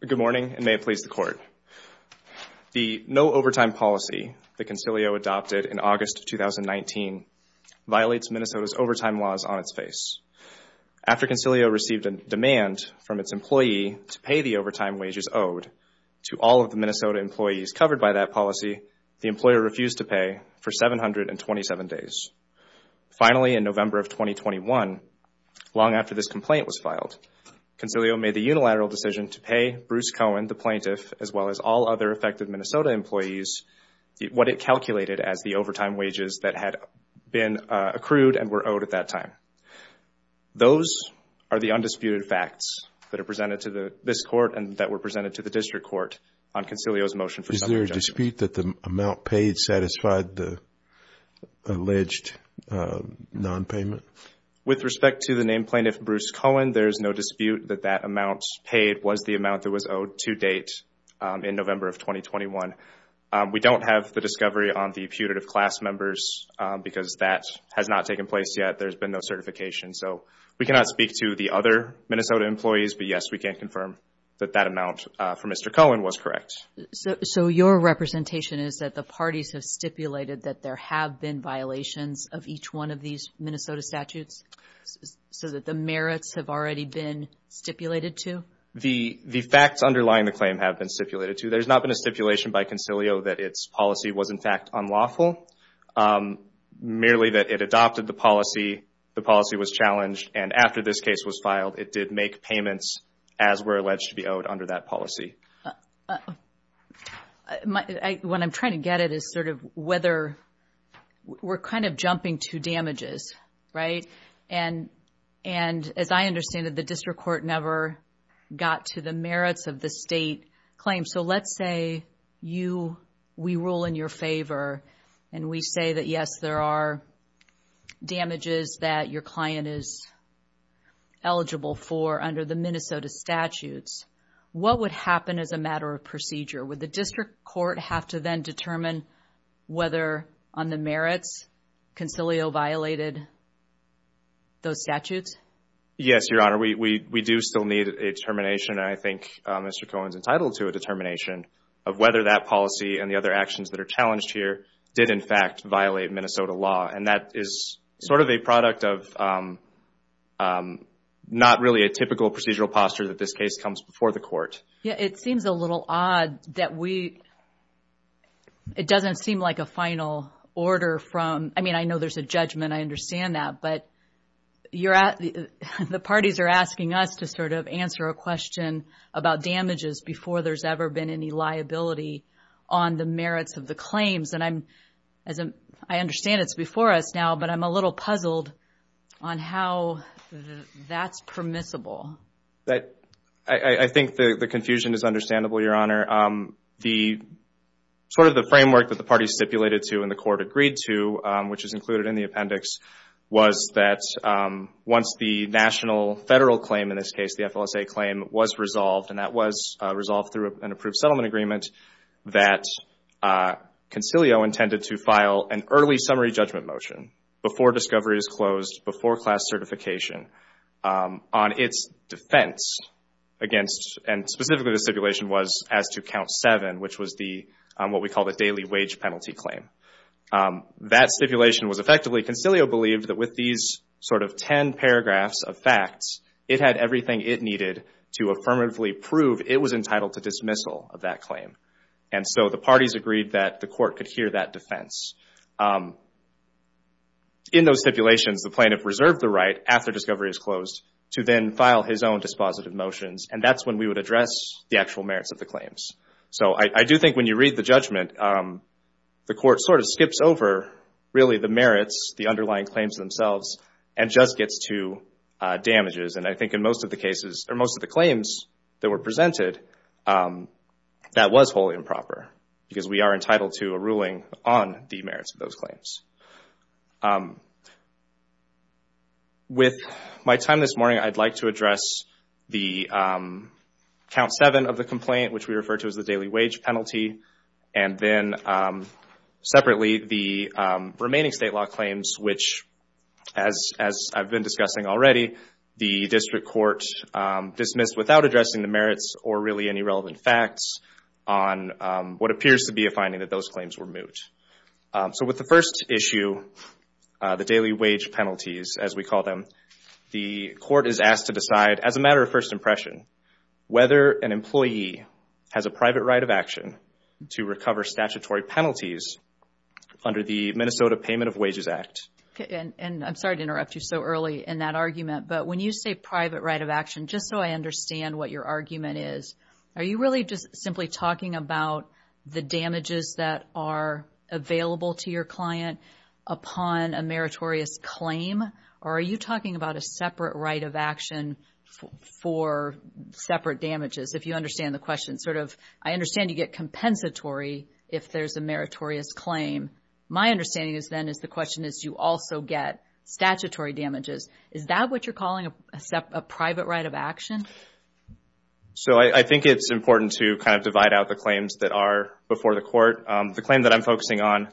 Good morning, and may it please the Court. The no-overtime policy that Consilio adopted in August of 2019 violates Minnesota's overtime laws on its face. After Consilio received a demand from its employee to pay the overtime wages owed to all of the Minnesota employees covered by that policy, the employer refused to pay for 727 days. Finally, in November of 2021, long after this complaint was filed, Consilio made the unilateral decision to pay Bruce Cohen, the plaintiff, as well as all other affected Minnesota employees what it calculated as the overtime wages that had been accrued and were owed at that time. Those are the undisputed facts that are presented to this Court and that were presented to the District Court on Consilio's motion for subjection. Is there a dispute that the amount paid satisfied the alleged nonpayment? With respect to the named plaintiff, Bruce Cohen, there is no dispute that that amount paid was the amount that was owed to date in November of 2021. We don't have the discovery on the putative class members because that has not taken place yet. There's been no certification. So we cannot speak to the other Minnesota employees, but yes, we can confirm that that amount from Mr. Cohen was correct. So your representation is that the parties have stipulated that there have been violations of each one of these Minnesota statutes so that the merits have already been stipulated to? The facts underlying the claim have been stipulated to. There's not been a stipulation by Consilio that its policy was, in fact, unlawful. Merely that it adopted the policy, the policy was challenged, and after this case was filed, it did make payments as were alleged to be What I'm trying to get at is sort of whether we're kind of jumping to damages, right? And as I understand it, the district court never got to the merits of the state claim. So let's say you, we rule in your favor and we say that, yes, there are damages that your client is eligible for under the Minnesota statutes. What would happen as a matter of procedure? Would the district court have to then determine whether on the merits Consilio violated those statutes? Yes, Your Honor. We do still need a determination, and I think Mr. Cohen's entitled to a determination of whether that policy and the other actions that are challenged here did, in fact, violate Minnesota law, and that is sort of a product of not really a typical procedural posture that this case comes before the court. It seems a little odd that we, it doesn't seem like a final order from, I mean, I know there's a judgment, I understand that, but you're at, the parties are asking us to sort of answer a question about damages before there's ever been any liability on the merits of the claims, and I'm, as I understand it's before us now, but I'm a little puzzled on how that's permissible. I think the confusion is understandable, Your Honor. The, sort of the framework that the parties stipulated to and the court agreed to, which is included in the appendix, was that once the national federal claim, in this case the FLSA claim, was resolved, and that was resolved through an approved settlement agreement, that Concilio intended to file an early summary judgment motion before discovery is closed, before class certification, on its defense against, and specifically the stipulation was as to count seven, which was the, what we call the daily wage penalty claim. That stipulation was effectively, Concilio believed that with these sort of ten paragraphs of facts, it had everything it needed to affirmatively prove it was entitled to dismissal of that claim, and so the parties agreed that the court could hear that defense. In those stipulations, the plaintiff reserved the right, after discovery is closed, to then file his own dispositive motions, and that's when we would address the actual merits of the claims. So, I do think when you read the judgment, the court sort of skips over, really, the merits, the underlying claims themselves, and just gets to damages, and I think in most of the cases, or most of the claims that were presented, that was wholly improper, because we are entitled to a ruling on the merits of those claims. With my time this morning, I'd like to address the count seven of the complaint, which we refer to as the daily wage penalty, and then, separately, the remaining state law claims, which, as I've been discussing already, the district court dismissed without addressing the merits, or really any relevant facts, on what appears to be a finding that those claims were moot. So with the first issue, the daily wage penalties, as we call them, the court is asked to decide, as a matter of first impression, whether an employee has a private right of action to recover statutory penalties under the Minnesota Payment of Wages Act. And I'm sorry to interrupt you so early in that argument, but when you say private right of action, just so I understand what your argument is, are you really just simply talking about the damages that are available to your client upon a meritorious claim, or are you talking about a separate right of action for separate damages? If you understand the question, sort of, I understand you get compensatory if there's a meritorious claim. My understanding, then, is the question is, do you also get statutory damages? Is that what you're calling a private right of action? So I think it's important to kind of divide out the claims that are before the court. The claim that I'm focusing on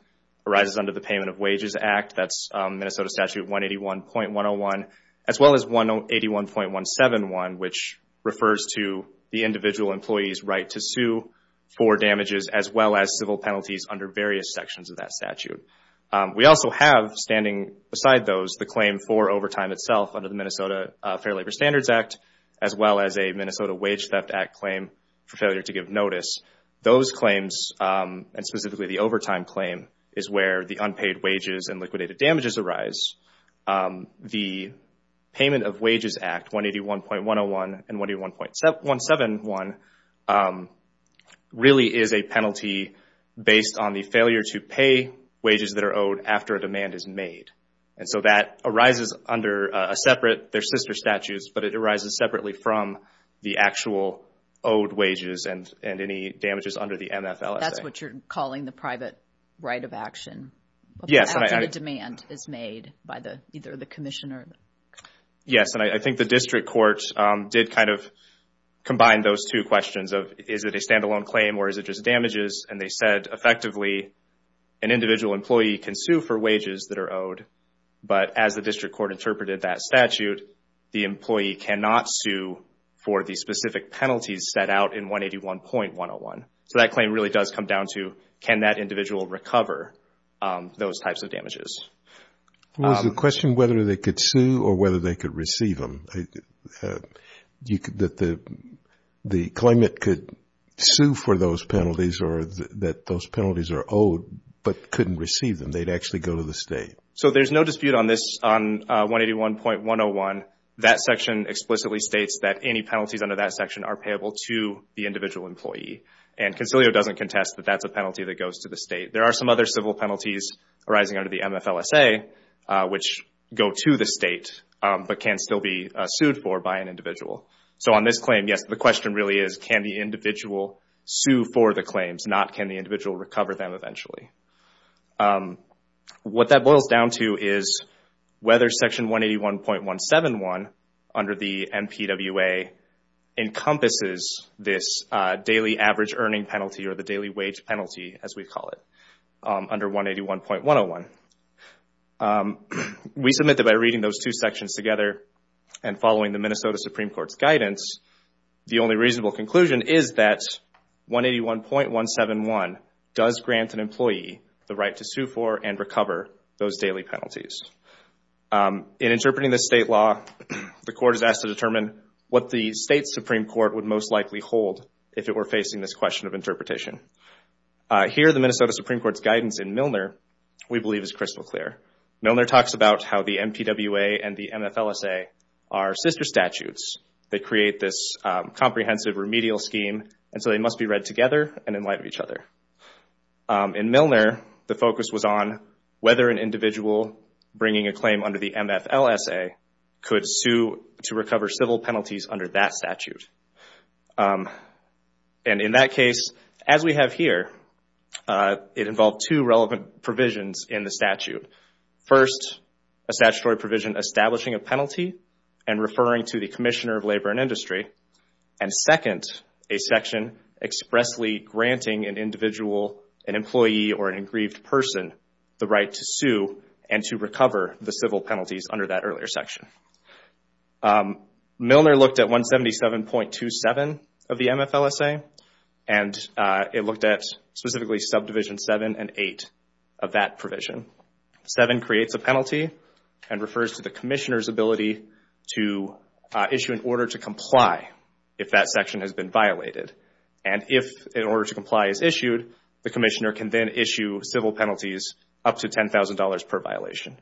arises under the Payment of Wages Act. That's Minnesota Statute 181.101, as well as 181.171, which refers to the individual employee's right to sue for damages, as well as civil penalties under various sections of that statute. We also have, standing beside those, the claim for overtime itself under the Minnesota Fair Labor Standards Act, as well as a Minnesota Wage Theft Act claim for failure to give notice. Those claims, and specifically the overtime claim, is where the unpaid wages and liquidated damages arise. The Payment of Wages Act, 181.101 and 181.171, really is a penalty based on the failure to pay wages that are owed after a demand is made. And so that arises under a separate, they're sister statutes, but it arises separately from the actual owed wages and any damages under the MFLSA. That's what you're calling the private right of action, after the demand is made by either the commissioner. Yes. And I think the district court did kind of combine those two questions of, is it a standalone claim or is it just damages? And they said, effectively, an individual employee can sue for wages that are owed, but as the district court interpreted that statute, the employee cannot sue for the specific penalties set out in 181.101. So that claim really does come down to, can that individual recover those types of damages? Well, there's a question whether they could sue or whether they could receive them. The claimant could sue for those penalties or that those penalties are owed, but couldn't receive them. They'd actually go to the state. So there's no dispute on this, on 181.101. That section explicitly states that any penalties under that section are payable to the individual employee. And Concilio doesn't contest that that's a penalty that goes to the state. There are some other civil penalties arising under the MFLSA, which go to the state, but can still be sued for by an individual. So on this claim, yes, the question really is, can the individual sue for the claims, not can the individual recover them eventually? What that boils down to is whether Section 181.171 under the MPWA encompasses this daily average earning penalty or the daily wage penalty, as we call it, under 181.101. We submit that by reading those two sections together and following the Minnesota Supreme Court's guidance, the only reasonable conclusion is that 181.171 does grant an employee the right to sue for and recover those daily penalties. In interpreting this state law, the court is asked to determine what the state Supreme Court would most likely hold if it were facing this question of interpretation. Here the Minnesota Supreme Court's guidance in Milner, we believe, is crystal clear. Milner talks about how the MPWA and the MFLSA are sister statutes that create this comprehensive remedial scheme, and so they must be read together and in light of each other. In Milner, the focus was on whether an individual bringing a claim under the MFLSA could sue to recover civil penalties under that statute. In that case, as we have here, it involved two relevant provisions in the statute. First, a statutory provision establishing a penalty and referring to the Commissioner of Labor and Industry, and second, a section expressly granting an individual, an employee, or an aggrieved person the right to sue and to recover the civil penalties under that earlier section. Milner looked at 177.27 of the MFLSA, and it looked at specifically subdivision 7 and 8 of that provision. 7 creates a penalty and refers to the Commissioner's ability to issue an order to comply if that section has been violated, and if an order to comply is issued, the Commissioner can then issue civil penalties up to $10,000 per violation.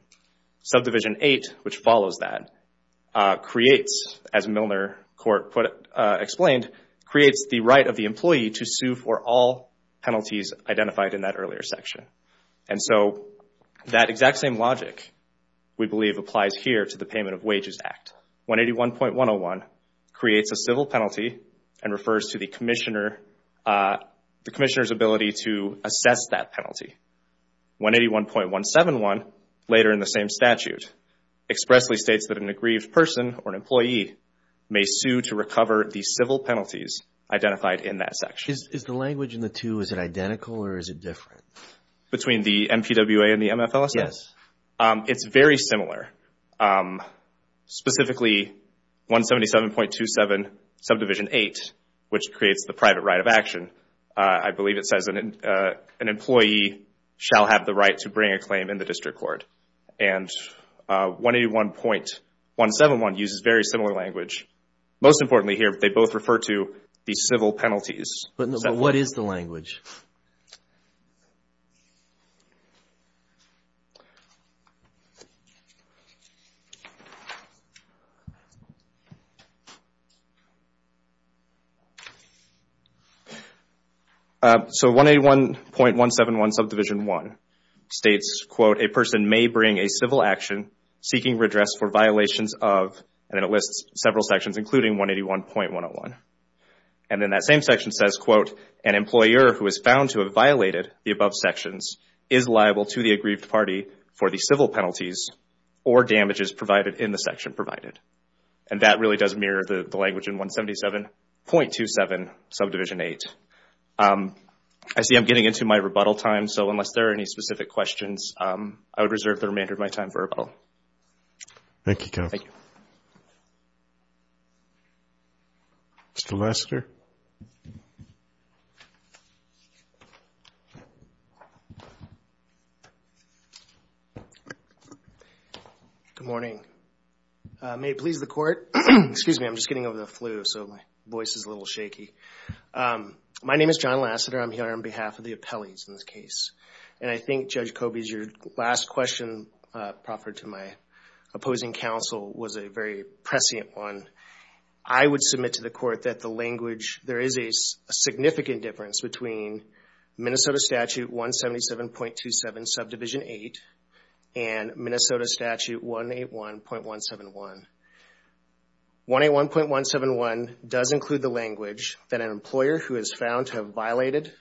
Subdivision 8, which follows that, creates, as Milner Court explained, creates the right of the employee to sue for all penalties identified in that earlier section. And so that exact same logic, we believe, applies here to the Payment of Wages Act. 181.101 creates a civil penalty and refers to the Commissioner's ability to assess that 181.171, later in the same statute, expressly states that an aggrieved person or an employee may sue to recover the civil penalties identified in that section. Is the language in the two, is it identical or is it different? Between the MPWA and the MFLSA? Yes. It's very similar. Specifically 177.27 subdivision 8, which creates the private right of action, I believe it says, an employee shall have the right to bring a claim in the district court. And 181.171 uses very similar language. Most importantly here, they both refer to the civil penalties. What is the language? So 181.171 subdivision 1 states, quote, a person may bring a civil action seeking redress for violations of, and it lists several sections including 181.101. And then that same section says, quote, an employer who is found to have violated the above sections is liable to the aggrieved party for the civil penalties or damages provided in the section provided. And that really does mirror the language in 177.27 subdivision 8. I see I'm getting into my rebuttal time, so unless there are any specific questions, I would reserve the remainder of my time for rebuttal. Thank you, Kevin. Thank you. Mr. Lasseter. Good morning. May it please the court. Excuse me, I'm just getting over the flu, so my voice is a little shaky. My name is John Lasseter. I'm here on behalf of the appellees in this case. And I think, Judge Kobes, your last question proffered to my opposing counsel was a very prescient one. I would submit to the court that the language, there is a significant difference between Minnesota statute 177.27 subdivision 8 and Minnesota statute 181.171. 181.171 does include the language that an employer who is found to have violated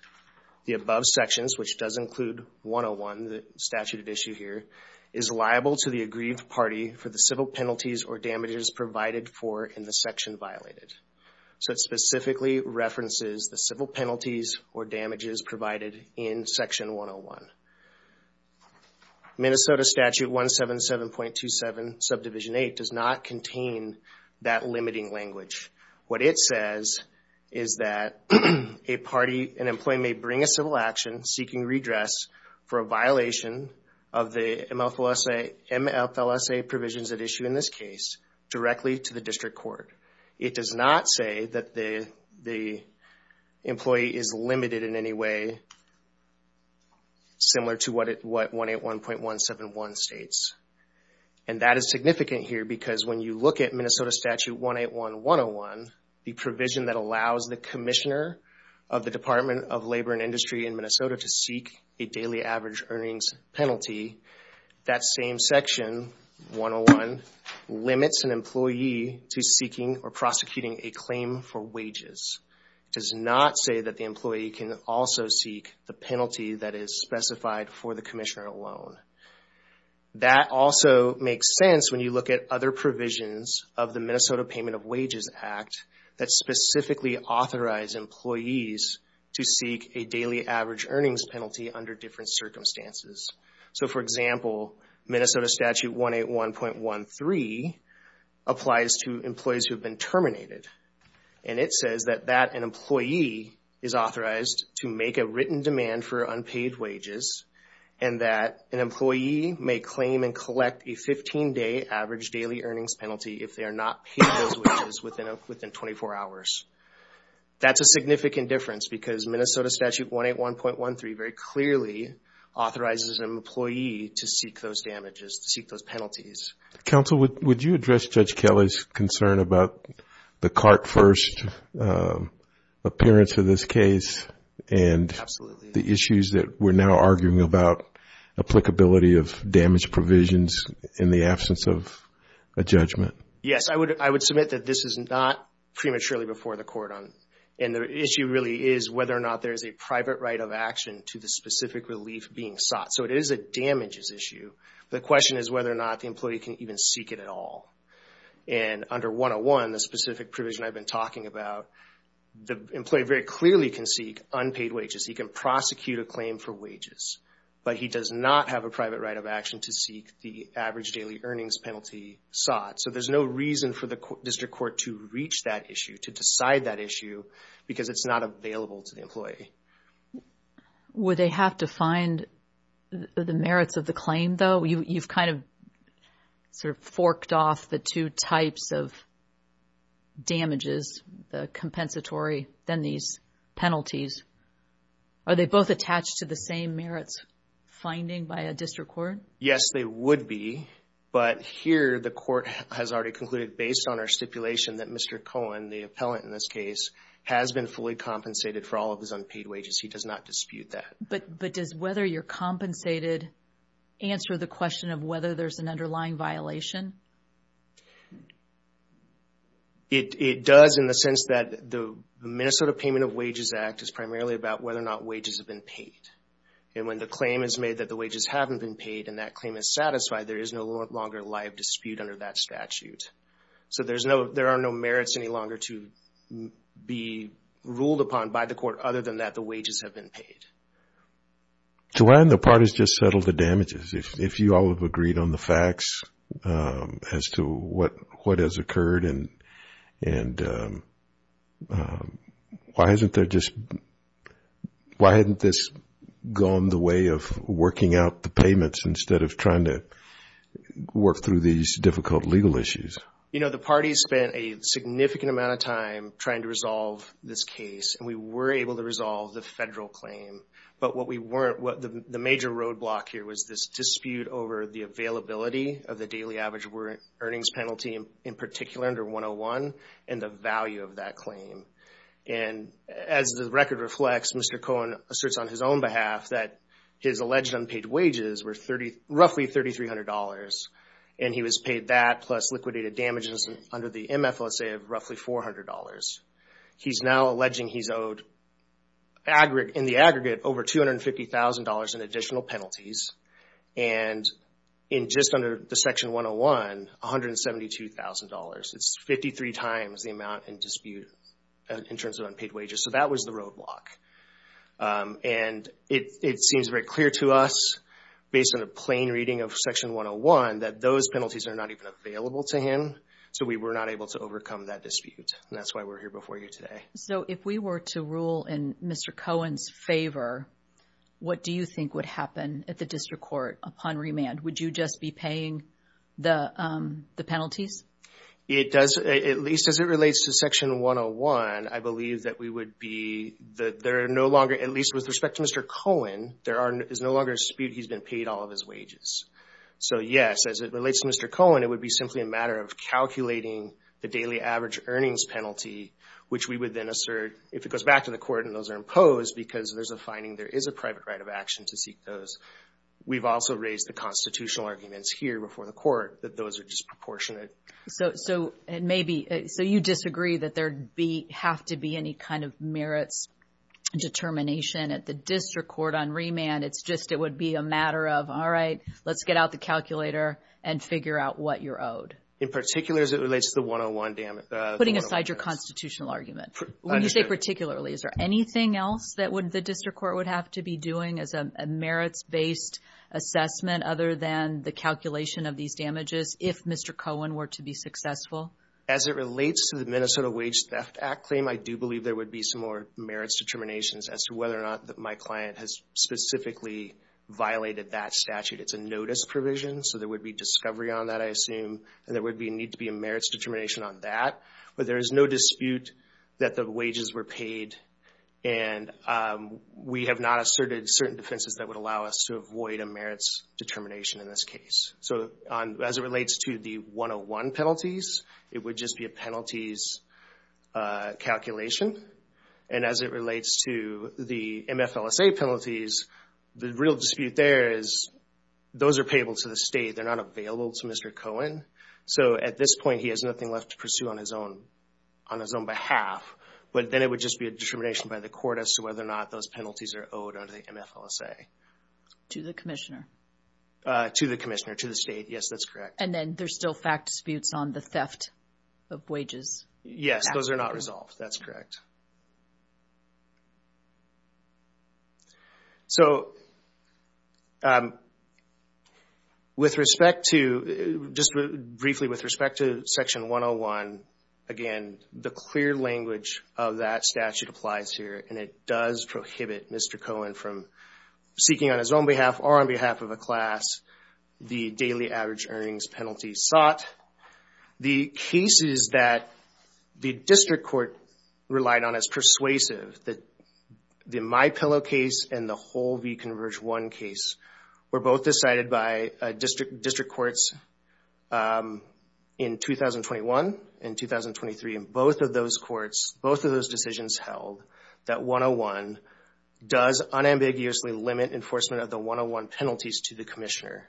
the above sections, which does include 101, the statute at issue here, is liable to the aggrieved party for the civil penalties or damages provided for in the section violated. So it specifically references the civil penalties or damages provided in section 101. Minnesota statute 177.27 subdivision 8 does not contain that limiting language. What it says is that a party, an employee may bring a civil action seeking redress for violation of the MFLSA provisions at issue in this case directly to the district court. It does not say that the employee is limited in any way similar to what 181.171 states. And that is significant here because when you look at Minnesota statute 181.101, the provision that allows the commissioner of the Department of Labor and Industry in Minnesota to seek a daily average earnings penalty, that same section, 101, limits an employee to seeking or prosecuting a claim for wages. It does not say that the employee can also seek the penalty that is specified for the commissioner alone. That also makes sense when you look at other provisions of the Minnesota Payment of Wages Act that specifically authorize employees to seek a daily average earnings penalty under different circumstances. So for example, Minnesota statute 181.13 applies to employees who have been terminated. And it says that an employee is authorized to make a written demand for unpaid wages and that an employee may claim and collect a 15-day average daily earnings penalty if they are not paid those wages within 24 hours. That's a significant difference because Minnesota statute 181.13 very clearly authorizes an employee to seek those damages, to seek those penalties. Counsel, would you address Judge Kelly's concern about the cart first appearance of this case and the issues that we're now arguing about applicability of damage provisions in the absence of a judgment? Yes, I would submit that this is not prematurely before the court and the issue really is whether or not there is a private right of action to the specific relief being sought. So it is a damages issue. The question is whether or not the employee can even seek it at all. And under 101, the specific provision I've been talking about, the employee very clearly can seek unpaid wages. He can prosecute a claim for wages, but he does not have a private right of action to seek the average daily earnings penalty sought. So there's no reason for the district court to reach that issue, to decide that issue because it's not available to the employee. Would they have to find the merits of the claim though? You've kind of sort of forked off the two types of damages, the compensatory, then these penalties. Are they both attached to the same merits finding by a district court? Yes, they would be. But here the court has already concluded based on our stipulation that Mr. Cohen, the appellant in this case, has been fully compensated for all of his unpaid wages. He does not dispute that. But does whether you're compensated answer the question of whether there's an underlying violation? It does in the sense that the Minnesota Payment of Wages Act is primarily about whether or not wages have been paid. And when the claim is made that the wages haven't been paid and that claim is satisfied, there is no longer live dispute under that statute. So there are no merits any longer to be ruled upon by the court other than that the wages have been paid. So why haven't the parties just settled the damages? If you all have agreed on the facts as to what has occurred and why hasn't there just Why hadn't this gone the way of working out the payments instead of trying to work through these difficult legal issues? You know, the parties spent a significant amount of time trying to resolve this case and we were able to resolve the federal claim. But what we weren't, the major roadblock here was this dispute over the availability of the daily average earnings penalty in particular under 101 and the value of that claim. And as the record reflects, Mr. Cohen asserts on his own behalf that his alleged unpaid wages were roughly $3,300 and he was paid that plus liquidated damages under the MFLSA of roughly $400. He's now alleging he's owed, in the aggregate, over $250,000 in additional penalties and in just under the section 101, $172,000. It's 53 times the amount in dispute in terms of unpaid wages. So that was the roadblock. And it seems very clear to us, based on a plain reading of section 101, that those penalties are not even available to him. So we were not able to overcome that dispute and that's why we're here before you today. So if we were to rule in Mr. Cohen's favor, what do you think would happen at the district court upon remand? Would you just be paying the penalties? It does, at least as it relates to section 101, I believe that we would be, that there are no longer, at least with respect to Mr. Cohen, there is no longer a dispute he's been paid all of his wages. So yes, as it relates to Mr. Cohen, it would be simply a matter of calculating the daily average earnings penalty, which we would then assert if it goes back to the court and those are imposed because there's a finding there is a private right of action to seek those. We've also raised the constitutional arguments here before the court that those are disproportionate. So it may be, so you disagree that there have to be any kind of merits determination at the district court on remand. It's just, it would be a matter of, all right, let's get out the calculator and figure out what you're owed. In particular, as it relates to the 101 damage. Putting aside your constitutional argument, when you say particularly, is there anything else that the district court would have to be doing as a merits-based assessment other than the calculation of these damages if Mr. Cohen were to be successful? As it relates to the Minnesota Wage Theft Act claim, I do believe there would be some more merits determinations as to whether or not my client has specifically violated that statute. It's a notice provision. So there would be discovery on that, I assume, and there would need to be a merits determination on that. But there is no dispute that the wages were paid and we have not asserted certain defenses that would allow us to avoid a merits determination in this case. So as it relates to the 101 penalties, it would just be a penalties calculation. And as it relates to the MFLSA penalties, the real dispute there is those are payable to the state. They're not available to Mr. Cohen. So at this point, he has nothing left to pursue on his own behalf. But then it would just be a determination by the court as to whether or not those penalties are owed under the MFLSA. To the commissioner? To the commissioner, to the state. Yes, that's correct. And then there's still fact disputes on the theft of wages? Yes, those are not resolved. That's correct. So, with respect to, just briefly with respect to Section 101, again, the clear language of that statute applies here and it does prohibit Mr. Cohen from seeking on his own behalf or on behalf of a class the daily average earnings penalty sought. The cases that the district court relied on as persuasive, the MyPillow case and the whole v. Converge 1 case, were both decided by district courts in 2021 and 2023. Both of those courts, both of those decisions held that 101 does unambiguously limit enforcement of the 101 penalties to the commissioner.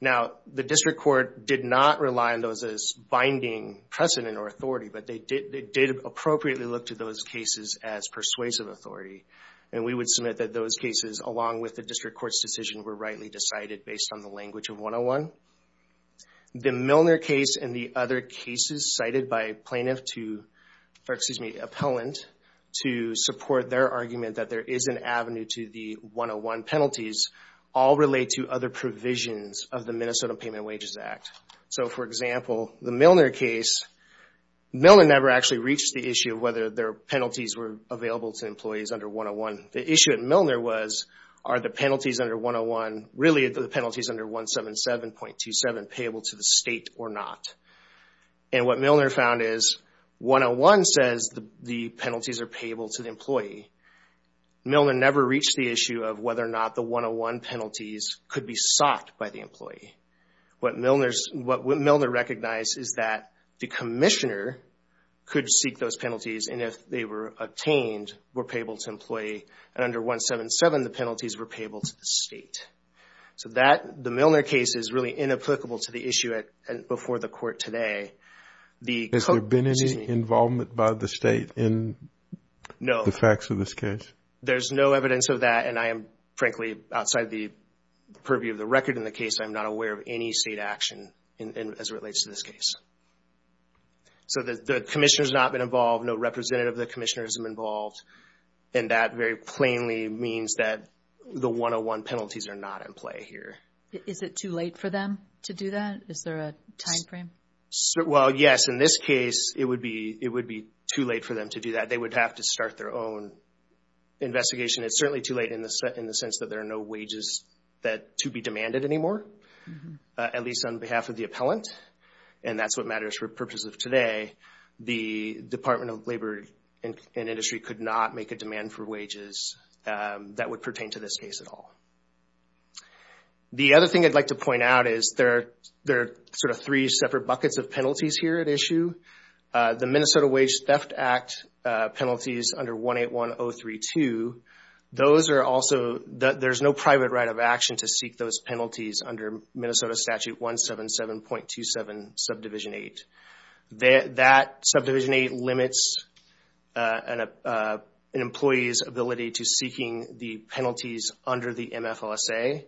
Now, the district court did not rely on those as binding precedent or authority, but they did appropriately look to those cases as persuasive authority. And we would submit that those cases, along with the district court's decision, were rightly decided based on the language of 101. The Milner case and the other cases cited by plaintiff to, or excuse me, appellant to support their argument that there is an avenue to the 101 penalties, all relate to other provisions of the Minnesota Payment Wages Act. So for example, the Milner case, Milner never actually reached the issue of whether their penalties were available to employees under 101. The issue at Milner was, are the penalties under 101, really the penalties under 177.27 payable to the state or not? And what Milner found is, 101 says the penalties are payable to the employee. Milner never reached the issue of whether or not the 101 penalties could be sought by the employee. What Milner recognized is that the commissioner could seek those penalties, and if they were obtained, were payable to employee, and under 177, the penalties were payable to the state. So the Milner case is really inapplicable to the issue before the court today. The court... Has there been any involvement by the state in the facts of this case? There's no evidence of that, and I am frankly, outside the purview of the record in the case, I'm not aware of any state action as it relates to this case. So the commissioner has not been involved, no representative of the commissioner has been involved, and that very plainly means that the 101 penalties are not in play here. Is it too late for them to do that? Is there a timeframe? Well, yes. In this case, it would be too late for them to do that. They would have to start their own investigation. It's certainly too late in the sense that there are no wages to be demanded anymore, at least on behalf of the appellant, and that's what matters for the purpose of today. The Department of Labor and Industry could not make a demand for wages that would pertain to this case at all. The other thing I'd like to point out is there are three separate buckets of penalties here at issue. The Minnesota Wage Theft Act penalties under 181032, there's no private right of action to seek those penalties under Minnesota Statute 177.27, Subdivision 8. That Subdivision 8 limits an employee's ability to seeking the penalties under the MFLSA,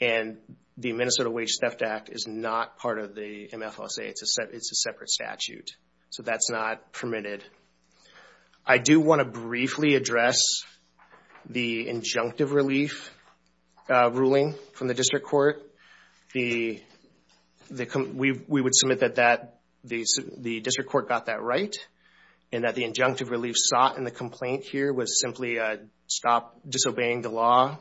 and the Minnesota Wage Theft Act is not part of the MFLSA. It's a separate statute, so that's not permitted. I do want to briefly address the injunctive relief ruling from the district court. We would submit that the district court got that right, and that the injunctive relief sought in the complaint here was simply a stop disobeying the law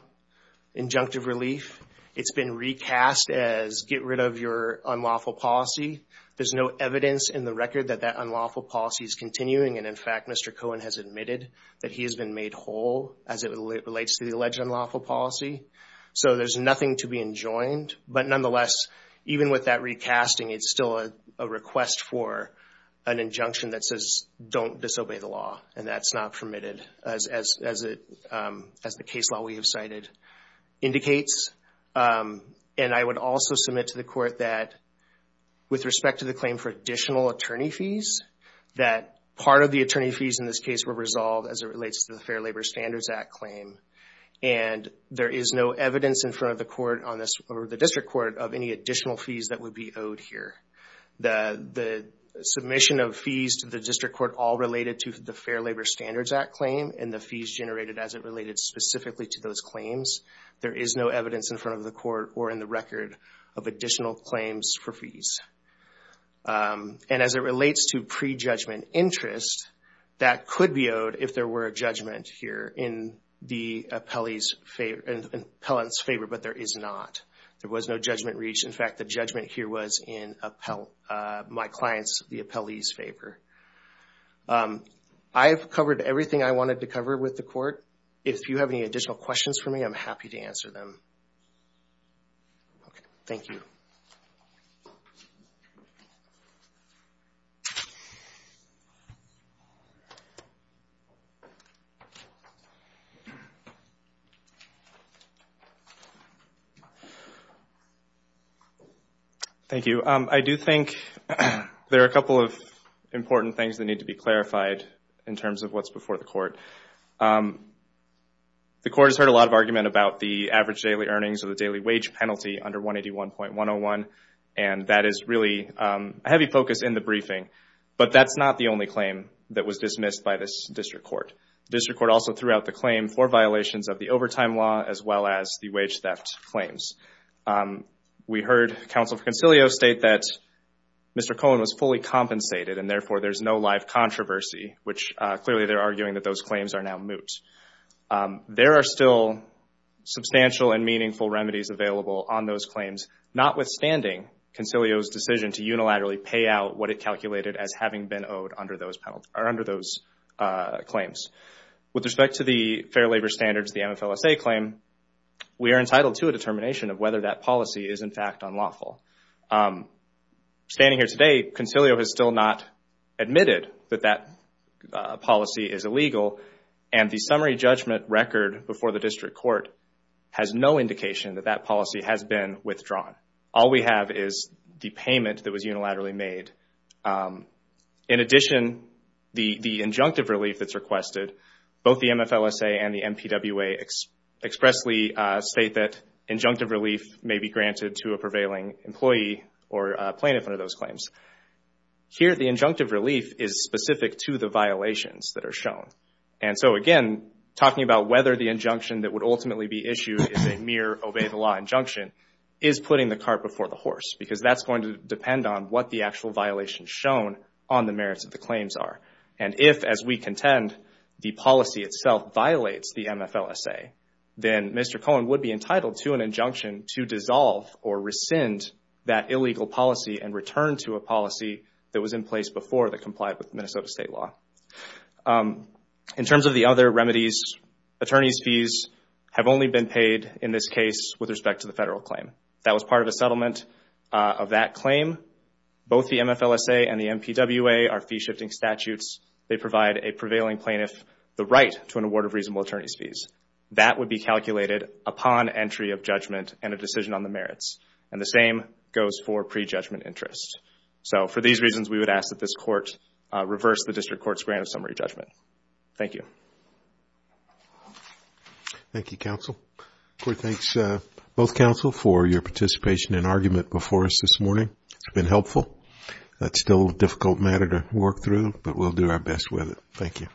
injunctive relief. It's been recast as get rid of your unlawful policy. There's no evidence in the record that that unlawful policy is continuing, and in fact Mr. Cohen has admitted that he has been made whole as it relates to the alleged unlawful policy. There's nothing to be enjoined, but nonetheless, even with that recasting, it's still a request for an injunction that says don't disobey the law, and that's not permitted as the case law we have cited indicates. I would also submit to the court that with respect to the claim for additional attorney fees, that part of the attorney fees in this case were resolved as it relates to the Fair Labor Standards Act claim, and there is no evidence in front of the district court of any additional fees that would be owed here. The submission of fees to the district court all related to the Fair Labor Standards Act claim, and the fees generated as it related specifically to those claims, there is no evidence in front of the court or in the record of additional claims for fees. And as it relates to pre-judgment interest, that could be owed if there were a judgment here in the appellant's favor, but there is not. There was no judgment reached. In fact, the judgment here was in my client's, the appellee's favor. I have covered everything I wanted to cover with the court. If you have any additional questions for me, I'm happy to answer them. Thank you. Thank you. I do think there are a couple of important things that need to be clarified in terms of what's before the court. The court has heard a lot of argument about the average daily earnings or the daily wage penalty under 181.101, and that is really a heavy focus in the briefing. But that's not the only claim that was dismissed by this district court. The district court also threw out the claim for violations of the overtime law as well as the wage theft claims. We heard Counsel for Concilio state that Mr. Cohen was fully compensated and therefore there's no live controversy, which clearly they're arguing that those claims are now There are still substantial and meaningful remedies available on those claims, notwithstanding Concilio's decision to unilaterally pay out what it calculated as having been owed under those claims. With respect to the Fair Labor Standards, the MFLSA claim, we are entitled to a determination of whether that policy is in fact unlawful. Standing here today, Concilio has still not admitted that that policy is illegal, and the summary judgment record before the district court has no indication that that policy has been withdrawn. All we have is the payment that was unilaterally made. In addition, the injunctive relief that's requested, both the MFLSA and the MPWA expressly state that injunctive relief may be granted to a prevailing employee or plaintiff under those claims. Here, the injunctive relief is specific to the violations that are shown. Again, talking about whether the injunction that would ultimately be issued is a mere obey-the-law injunction is putting the cart before the horse, because that's going to depend on what the actual violations shown on the merits of the claims are. If, as we contend, the policy itself violates the MFLSA, then Mr. Cohen would be entitled to an injunction to dissolve or rescind that illegal policy and return to a policy that was in place before that complied with Minnesota state law. In terms of the other remedies, attorney's fees have only been paid in this case with respect to the federal claim. That was part of a settlement of that claim. Both the MFLSA and the MPWA are fee-shifting statutes. They provide a prevailing plaintiff the right to an award of reasonable attorney's fees. That would be calculated upon entry of judgment and a decision on the merits, and the same goes for pre-judgment interest. So, for these reasons, we would ask that this Court reverse the District Court's grant of summary judgment. Thank you. Thank you, counsel. Court thanks both counsel for your participation and argument before us this morning. It's been helpful. It's still a difficult matter to work through, but we'll do our best with it. Thank you. Thank you.